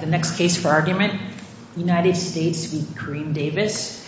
The next case for argument, United States v. Kareem Davis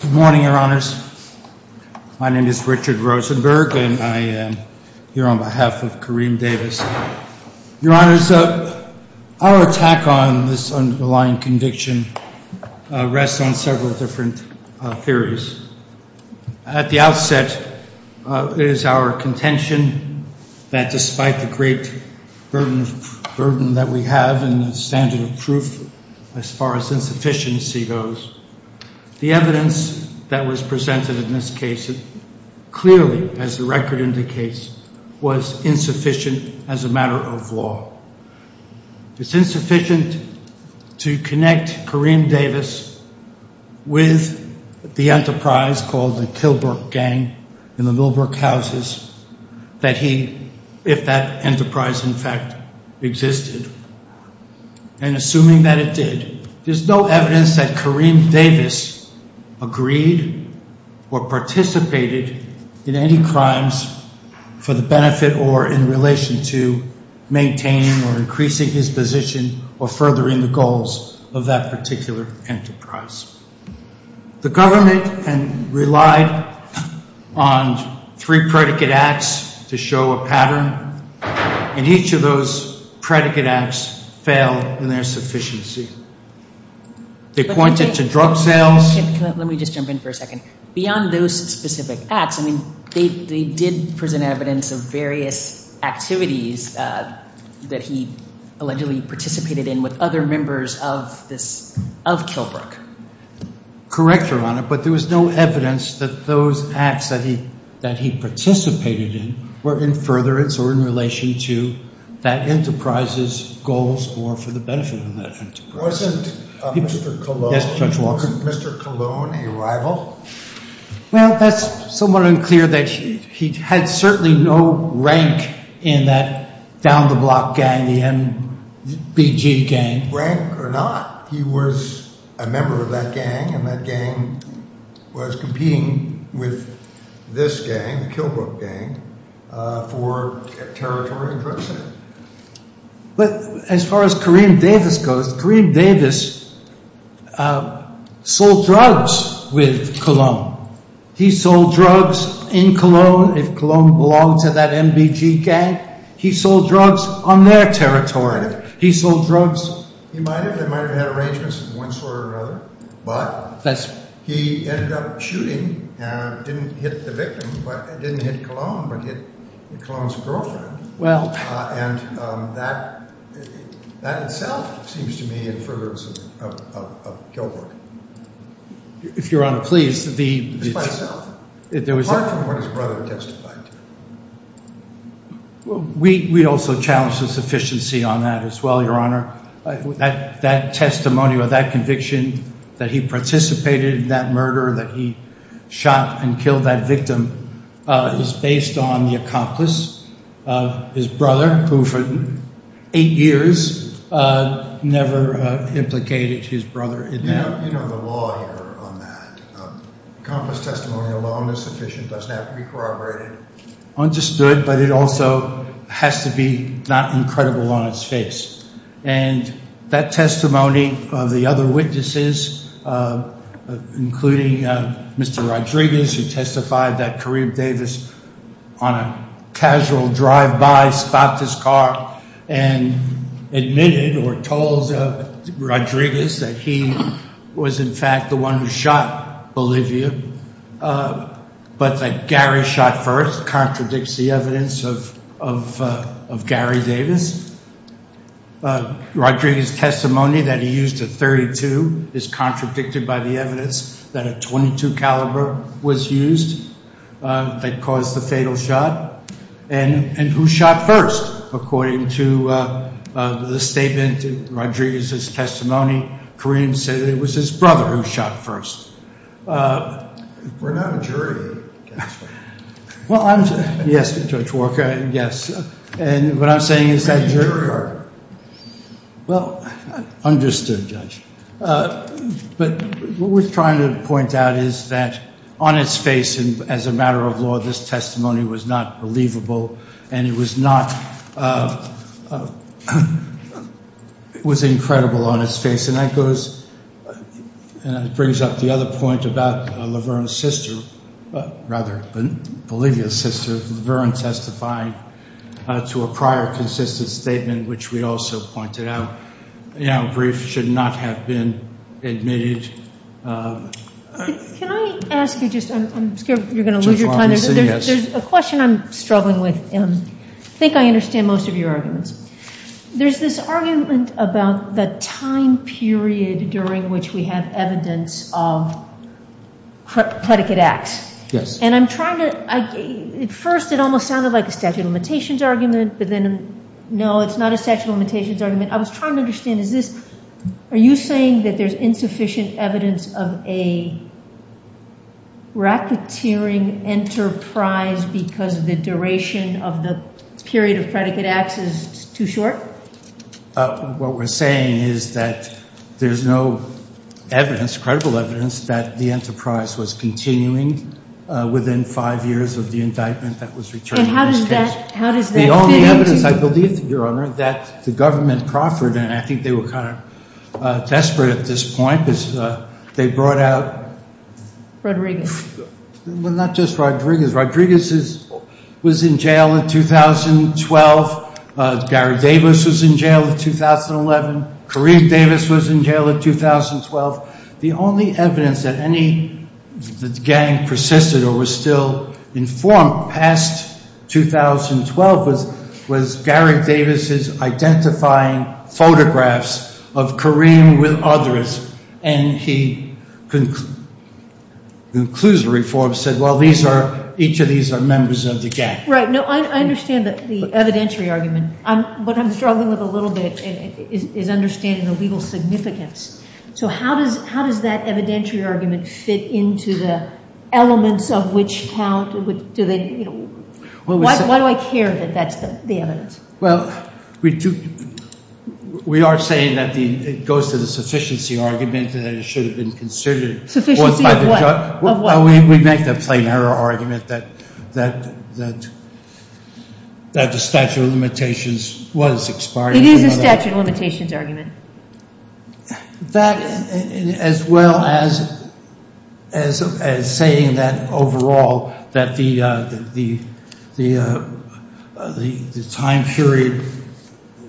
Good morning, your honors. My name is Richard Rosenberg and I am here on behalf of Kareem Davis. Your honors, our attack on this underlying conviction rests on several different theories. At the outset, it is our contention that despite the great burden that we have and the standard of proof as far as insufficiency goes, the evidence that was presented in this case clearly, as the record indicates, was insufficient as a matter of law. It's insufficient to connect Kareem Davis with the enterprise called the Killbrook Gang in the Millbrook houses, if that enterprise in fact existed, and assuming that it did. There's no evidence that Kareem Davis agreed or participated in any crimes for the benefit or in relation to maintaining or increasing his position or furthering the goals of that particular enterprise. The government relied on three predicate acts to show a pattern, and each of those predicate acts failed in their sufficiency. They pointed to drug sales. Let me just jump in for a second. Beyond those specific acts, I mean, they did present evidence of various activities that he allegedly participated in with other members of this, of Killbrook. Correct Your Honor, but there was no evidence that those acts that he participated in were in furtherance or in relation to that enterprise's goals or for the benefit of that enterprise. Wasn't Mr. Colon a rival? Well, that's somewhat unclear that he had certainly no rank in that down-the-block gang, the MBG gang. Rank or not, he was a member of that gang, and that gang was competing with this gang, the Killbrook Gang, for territory and drug sales. But as far as Kareem Davis goes, Kareem Davis sold drugs with Colon. He sold drugs in Colon if Colon belonged to that MBG gang. He sold drugs on their territory. He might have had arrangements of one sort or another, but he ended up shooting and didn't hit the victim, didn't hit Colon, but hit Colon's girlfriend. And that itself seems to me in furtherance of Killbrook. If Your Honor, please, the – It's myself. There was – Apart from what his brother testified to. We also challenged the sufficiency on that as well, Your Honor. That testimony or that conviction that he participated in that murder, that he shot and killed that victim, is based on the accomplice, his brother, who for eight years never implicated his brother in that. You know the law here on that. Accomplice testimony alone is sufficient. It doesn't have to be corroborated. Understood, but it also has to be not incredible on its face. And that testimony of the other witnesses, including Mr. Rodriguez, who testified that Kareem Davis on a casual drive-by stopped his car and admitted or told Rodriguez that he was, in fact, the one who shot Olivia, but that Gary shot first contradicts the evidence of Gary Davis. Rodriguez's testimony that he used a .32 is contradicted by the evidence that a .22 caliber was used that caused the fatal shot. And who shot first, according to the statement, Rodriguez's testimony, Kareem said it was his brother who shot first. We're not a jury. Well, I'm – yes, Judge Walker, yes. And what I'm saying is that – We're not a jury. Well, understood, Judge. But what we're trying to point out is that on its face and as a matter of law, this testimony was not believable and it was not – it was incredible on its face. And that goes – brings up the other point about Laverne's sister – rather, Olivia's sister. Laverne testified to a prior consistent statement, which we also pointed out. You know, grief should not have been admitted. Can I ask you just – I'm scared you're going to lose your time. Judge Walker, yes. There's a question I'm struggling with. I think I understand most of your arguments. There's this argument about the time period during which we have evidence of predicate acts. Yes. And I'm trying to – at first it almost sounded like a statute of limitations argument, but then, no, it's not a statute of limitations argument. I was trying to understand, is this – are you saying that there's insufficient evidence of a racketeering enterprise because the duration of the period of predicate acts is too short? What we're saying is that there's no evidence, credible evidence, that the enterprise was continuing within five years of the indictment that was returned. And how does that – how does that fit into – The only evidence, I believe, Your Honor, that the government proffered, and I think they were kind of desperate at this point, is they brought out – Rodriguez. Well, not just Rodriguez. Rodriguez was in jail in 2012. Gary Davis was in jail in 2011. Kareem Davis was in jail in 2012. The only evidence that any – that the gang persisted or was still informed past 2012 was Gary Davis' identifying photographs of Kareem with others, and he concludes the reform, said, well, these are – each of these are members of the gang. Right. No, I understand the evidentiary argument. What I'm struggling with a little bit is understanding the legal significance. So how does – how does that evidentiary argument fit into the elements of which count? Do they – why do I care that that's the evidence? Well, we do – we are saying that the – it goes to the sufficiency argument that it should have been considered. Sufficiency of what? Of what? We make the plain error argument that the statute of limitations was expired. It is a statute of limitations argument. That, as well as saying that overall that the time period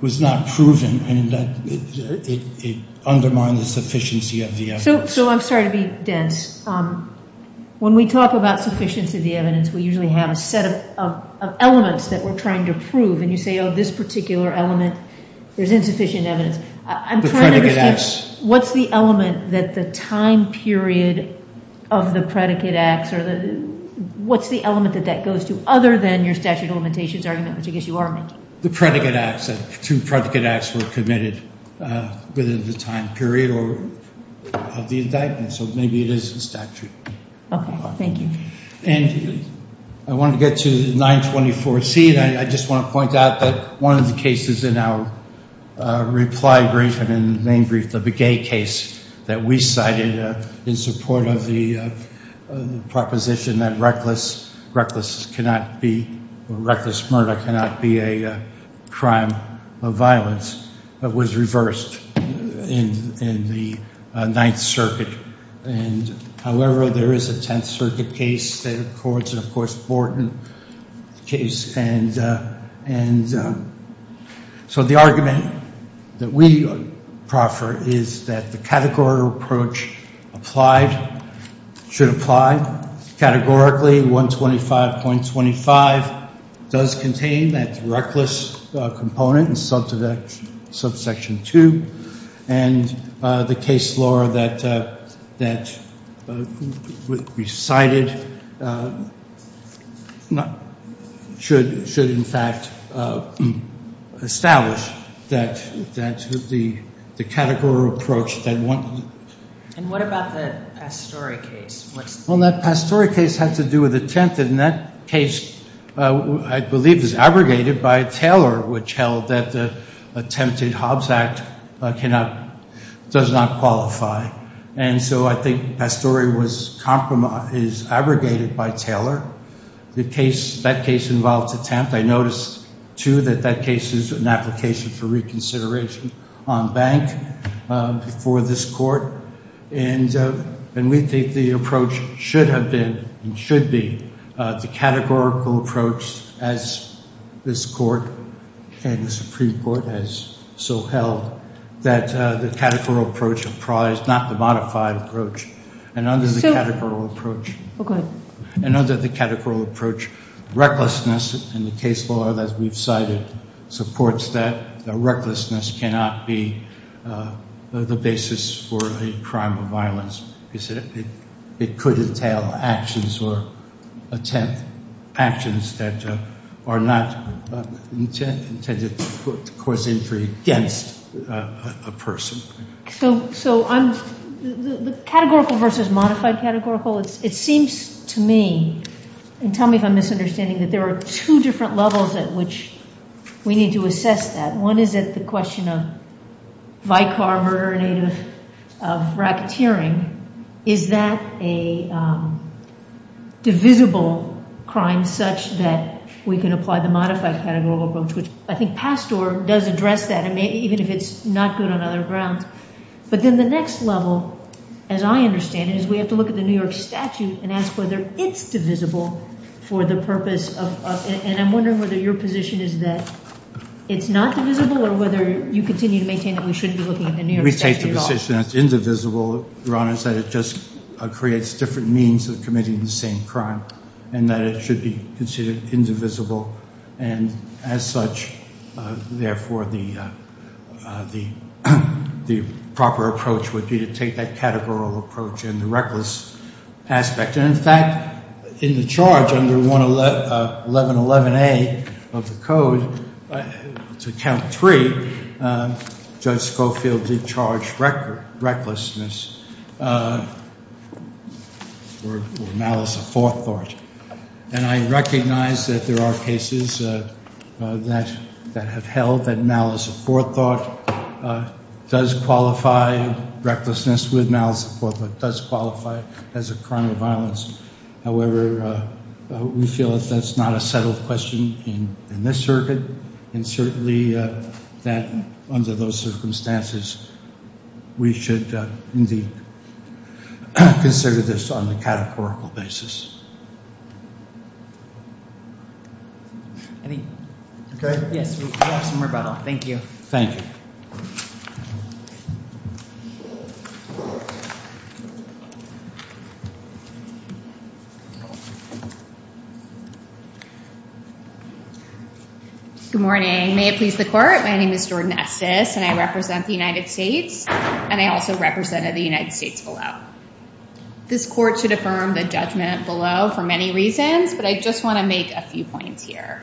was not proven and that it undermined the sufficiency of the evidence. So I'm sorry to be dense. When we talk about sufficiency of the evidence, we usually have a set of elements that we're trying to prove, and you say, oh, this particular element, there's insufficient evidence. I'm trying to understand – The predicate acts. What's the element that the time period of the predicate acts or the – what's the element that that goes to other than your statute of limitations argument, which I guess you are making? The predicate acts. Two predicate acts were committed within the time period of the indictment, so maybe it is a statute. Okay. Thank you. And I want to get to 924C, and I just want to point out that one of the cases in our reply brief and in the main brief, the Begay case that we cited in support of the proposition that reckless – reckless cannot be – or reckless murder cannot be a crime of violence was reversed in the Ninth Circuit. And, however, there is a Tenth Circuit case that records it, of course, Borton case. And so the argument that we proffer is that the categorical approach applied – should apply categorically. 125.25 does contain that reckless component in subsection 2. And the case law that we cited should, in fact, establish that the categorical approach that one – And what about the Pastore case? Well, that Pastore case had to do with the Tenth. And that case, I believe, is abrogated by Taylor, which held that the attempted Hobbs Act cannot – does not qualify. And so I think Pastore was – is abrogated by Taylor. The case – that case involved a Tenth. I noticed, too, that that case is an application for reconsideration on bank before this court. And we think the approach should have been and should be the categorical approach, as this court and the Supreme Court has so held, that the categorical approach applies, not the modified approach. And under the categorical approach – Oh, go ahead. You said it could entail actions or attempt – actions that are not intended to cause injury against a person. So I'm – the categorical versus modified categorical, it seems to me – and tell me if I'm misunderstanding – that there are two different levels at which we need to assess that. One is at the question of vicar, murderer, native of racketeering. Is that a divisible crime such that we can apply the modified categorical approach? Which I think Pastore does address that, even if it's not good on other grounds. But then the next level, as I understand it, is we have to look at the New York statute and ask whether it's divisible for the purpose of – And I'm wondering whether your position is that it's not divisible or whether you continue to maintain that we shouldn't be looking at the New York statute at all. We take the position that it's indivisible. Your Honor, it's that it just creates different means of committing the same crime and that it should be considered indivisible. And as such, therefore, the proper approach would be to take that categorical approach and the reckless aspect. And, in fact, in the charge under 1111A of the code, to count three, Judge Schofield did charge recklessness or malice of forethought. And I recognize that there are cases that have held that malice of forethought does qualify. Recklessness with malice of forethought does qualify as a crime of violence. However, we feel that that's not a settled question in this circuit. And certainly that under those circumstances, we should indeed consider this on the categorical basis. I think – Okay. Yes, we have some rebuttal. Thank you. Thank you. Thank you. Good morning. May it please the court, my name is Jordan Estes and I represent the United States and I also represented the United States below. This court should affirm the judgment below for many reasons, but I just want to make a few points here.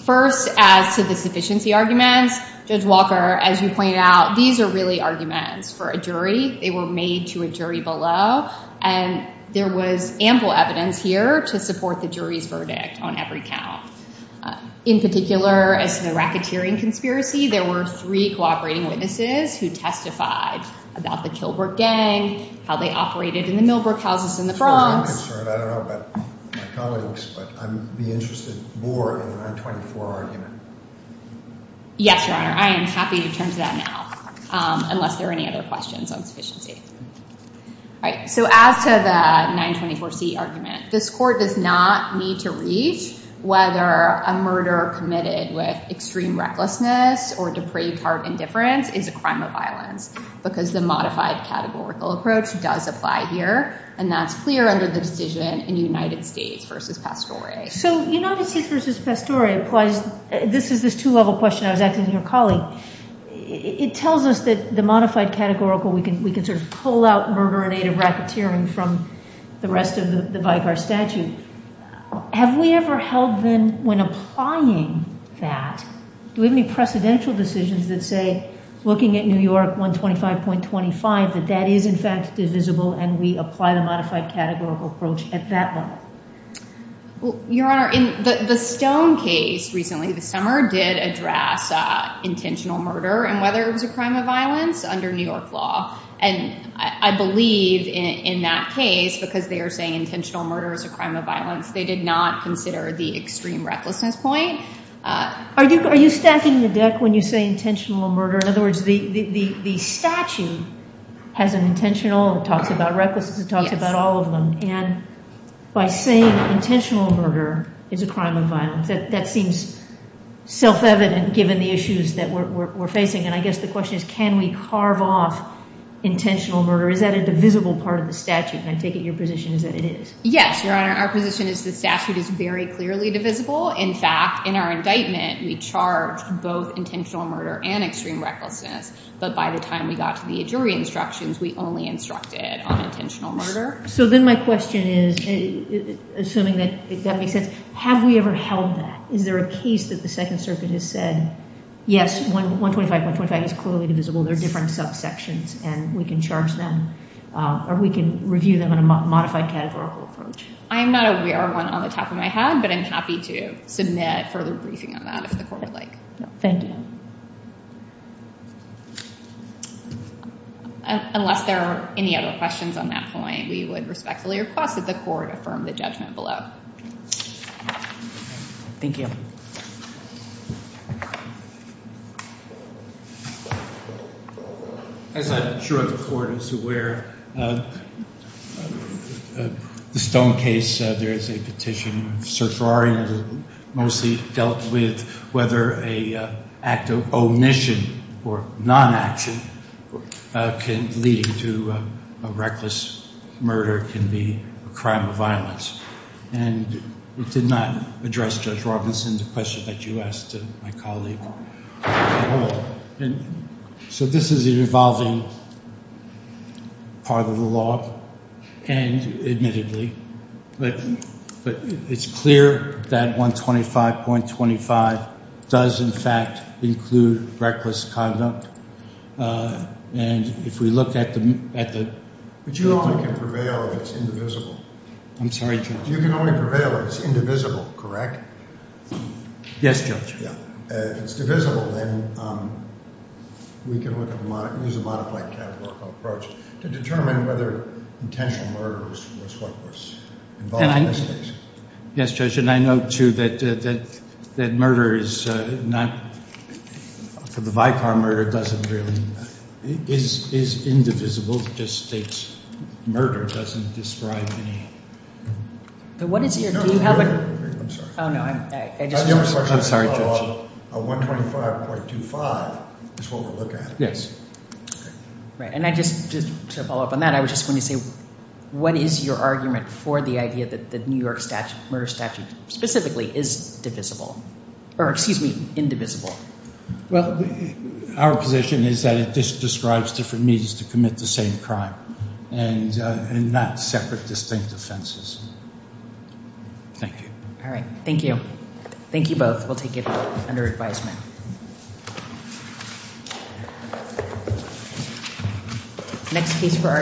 First, as to the sufficiency arguments, Judge Walker, as you pointed out, these are really arguments for a jury. They were made to a jury below and there was ample evidence here to support the jury's verdict on every count. In particular, as to the racketeering conspiracy, there were three cooperating witnesses who testified about the Kilberg gang, how they operated in the Millbrook houses in the Bronx. As far as I'm concerned, I don't know about my colleagues, but I'd be interested more in the 924 argument. Yes, Your Honor, I am happy to turn to that now, unless there are any other questions on sufficiency. All right, so as to the 924C argument, this court does not need to reach whether a murder committed with extreme recklessness or depraved heart indifference is a crime of violence, because the modified categorical approach does apply here and that's clear under the decision in United States v. Pastore. So United States v. Pastore applies – this is this two-level question I was asking your colleague. It tells us that the modified categorical, we can sort of pull out murder and aid of racketeering from the rest of the Vicar statute. Have we ever held then, when applying that, do we have any precedential decisions that say, looking at New York 125.25, that that is in fact divisible and we apply the modified categorical approach at that level? Your Honor, the Stone case recently, this summer, did address intentional murder and whether it was a crime of violence under New York law. And I believe in that case, because they are saying intentional murder is a crime of violence, they did not consider the extreme recklessness point. Are you stacking the deck when you say intentional murder? In other words, the statute has an intentional, it talks about recklessness, it talks about all of them. And by saying intentional murder is a crime of violence, that seems self-evident given the issues that we're facing. And I guess the question is, can we carve off intentional murder? Is that a divisible part of the statute? And I take it your position is that it is. Yes, Your Honor. Our position is the statute is very clearly divisible. In fact, in our indictment, we charged both intentional murder and extreme recklessness. But by the time we got to the jury instructions, we only instructed on intentional murder. So then my question is, assuming that that makes sense, have we ever held that? Is there a case that the Second Circuit has said, yes, 125.25 is clearly divisible. There are different subsections and we can charge them or we can review them in a modified categorical approach. I'm not aware of one on the top of my head, but I'm happy to submit further briefing on that if the court would like. Thank you. Unless there are any other questions on that point, we would respectfully request that the court affirm the judgment below. Thank you. As I'm sure the court is aware, the Stone case, there is a petition. It mostly dealt with whether an act of omission or non-action leading to a reckless murder can be a crime of violence. And it did not address, Judge Robinson, the question that you asked my colleague. So this is an evolving part of the law and admittedly. But it's clear that 125.25 does in fact include reckless conduct. And if we look at the – But you only can prevail if it's indivisible. I'm sorry, Judge. You can only prevail if it's indivisible, correct? Yes, Judge. If it's divisible, then we can use a modified categorical approach to determine whether intentional murder was reckless. Yes, Judge. And I note, too, that murder is not – the Vicar murder doesn't really – is indivisible. It just states murder doesn't describe any – What is your – do you have a – I'm sorry. I'm sorry, Judge. 125.25 is what we're looking at. Yes. Right. And I just – to follow up on that, I was just going to say, what is your argument for the idea that the New York statute – murder statute specifically is divisible? Or excuse me, indivisible. Well, our position is that it describes different means to commit the same crime and not separate distinct offenses. Thank you. All right. Thank you. Thank you both. We'll take it under advisement.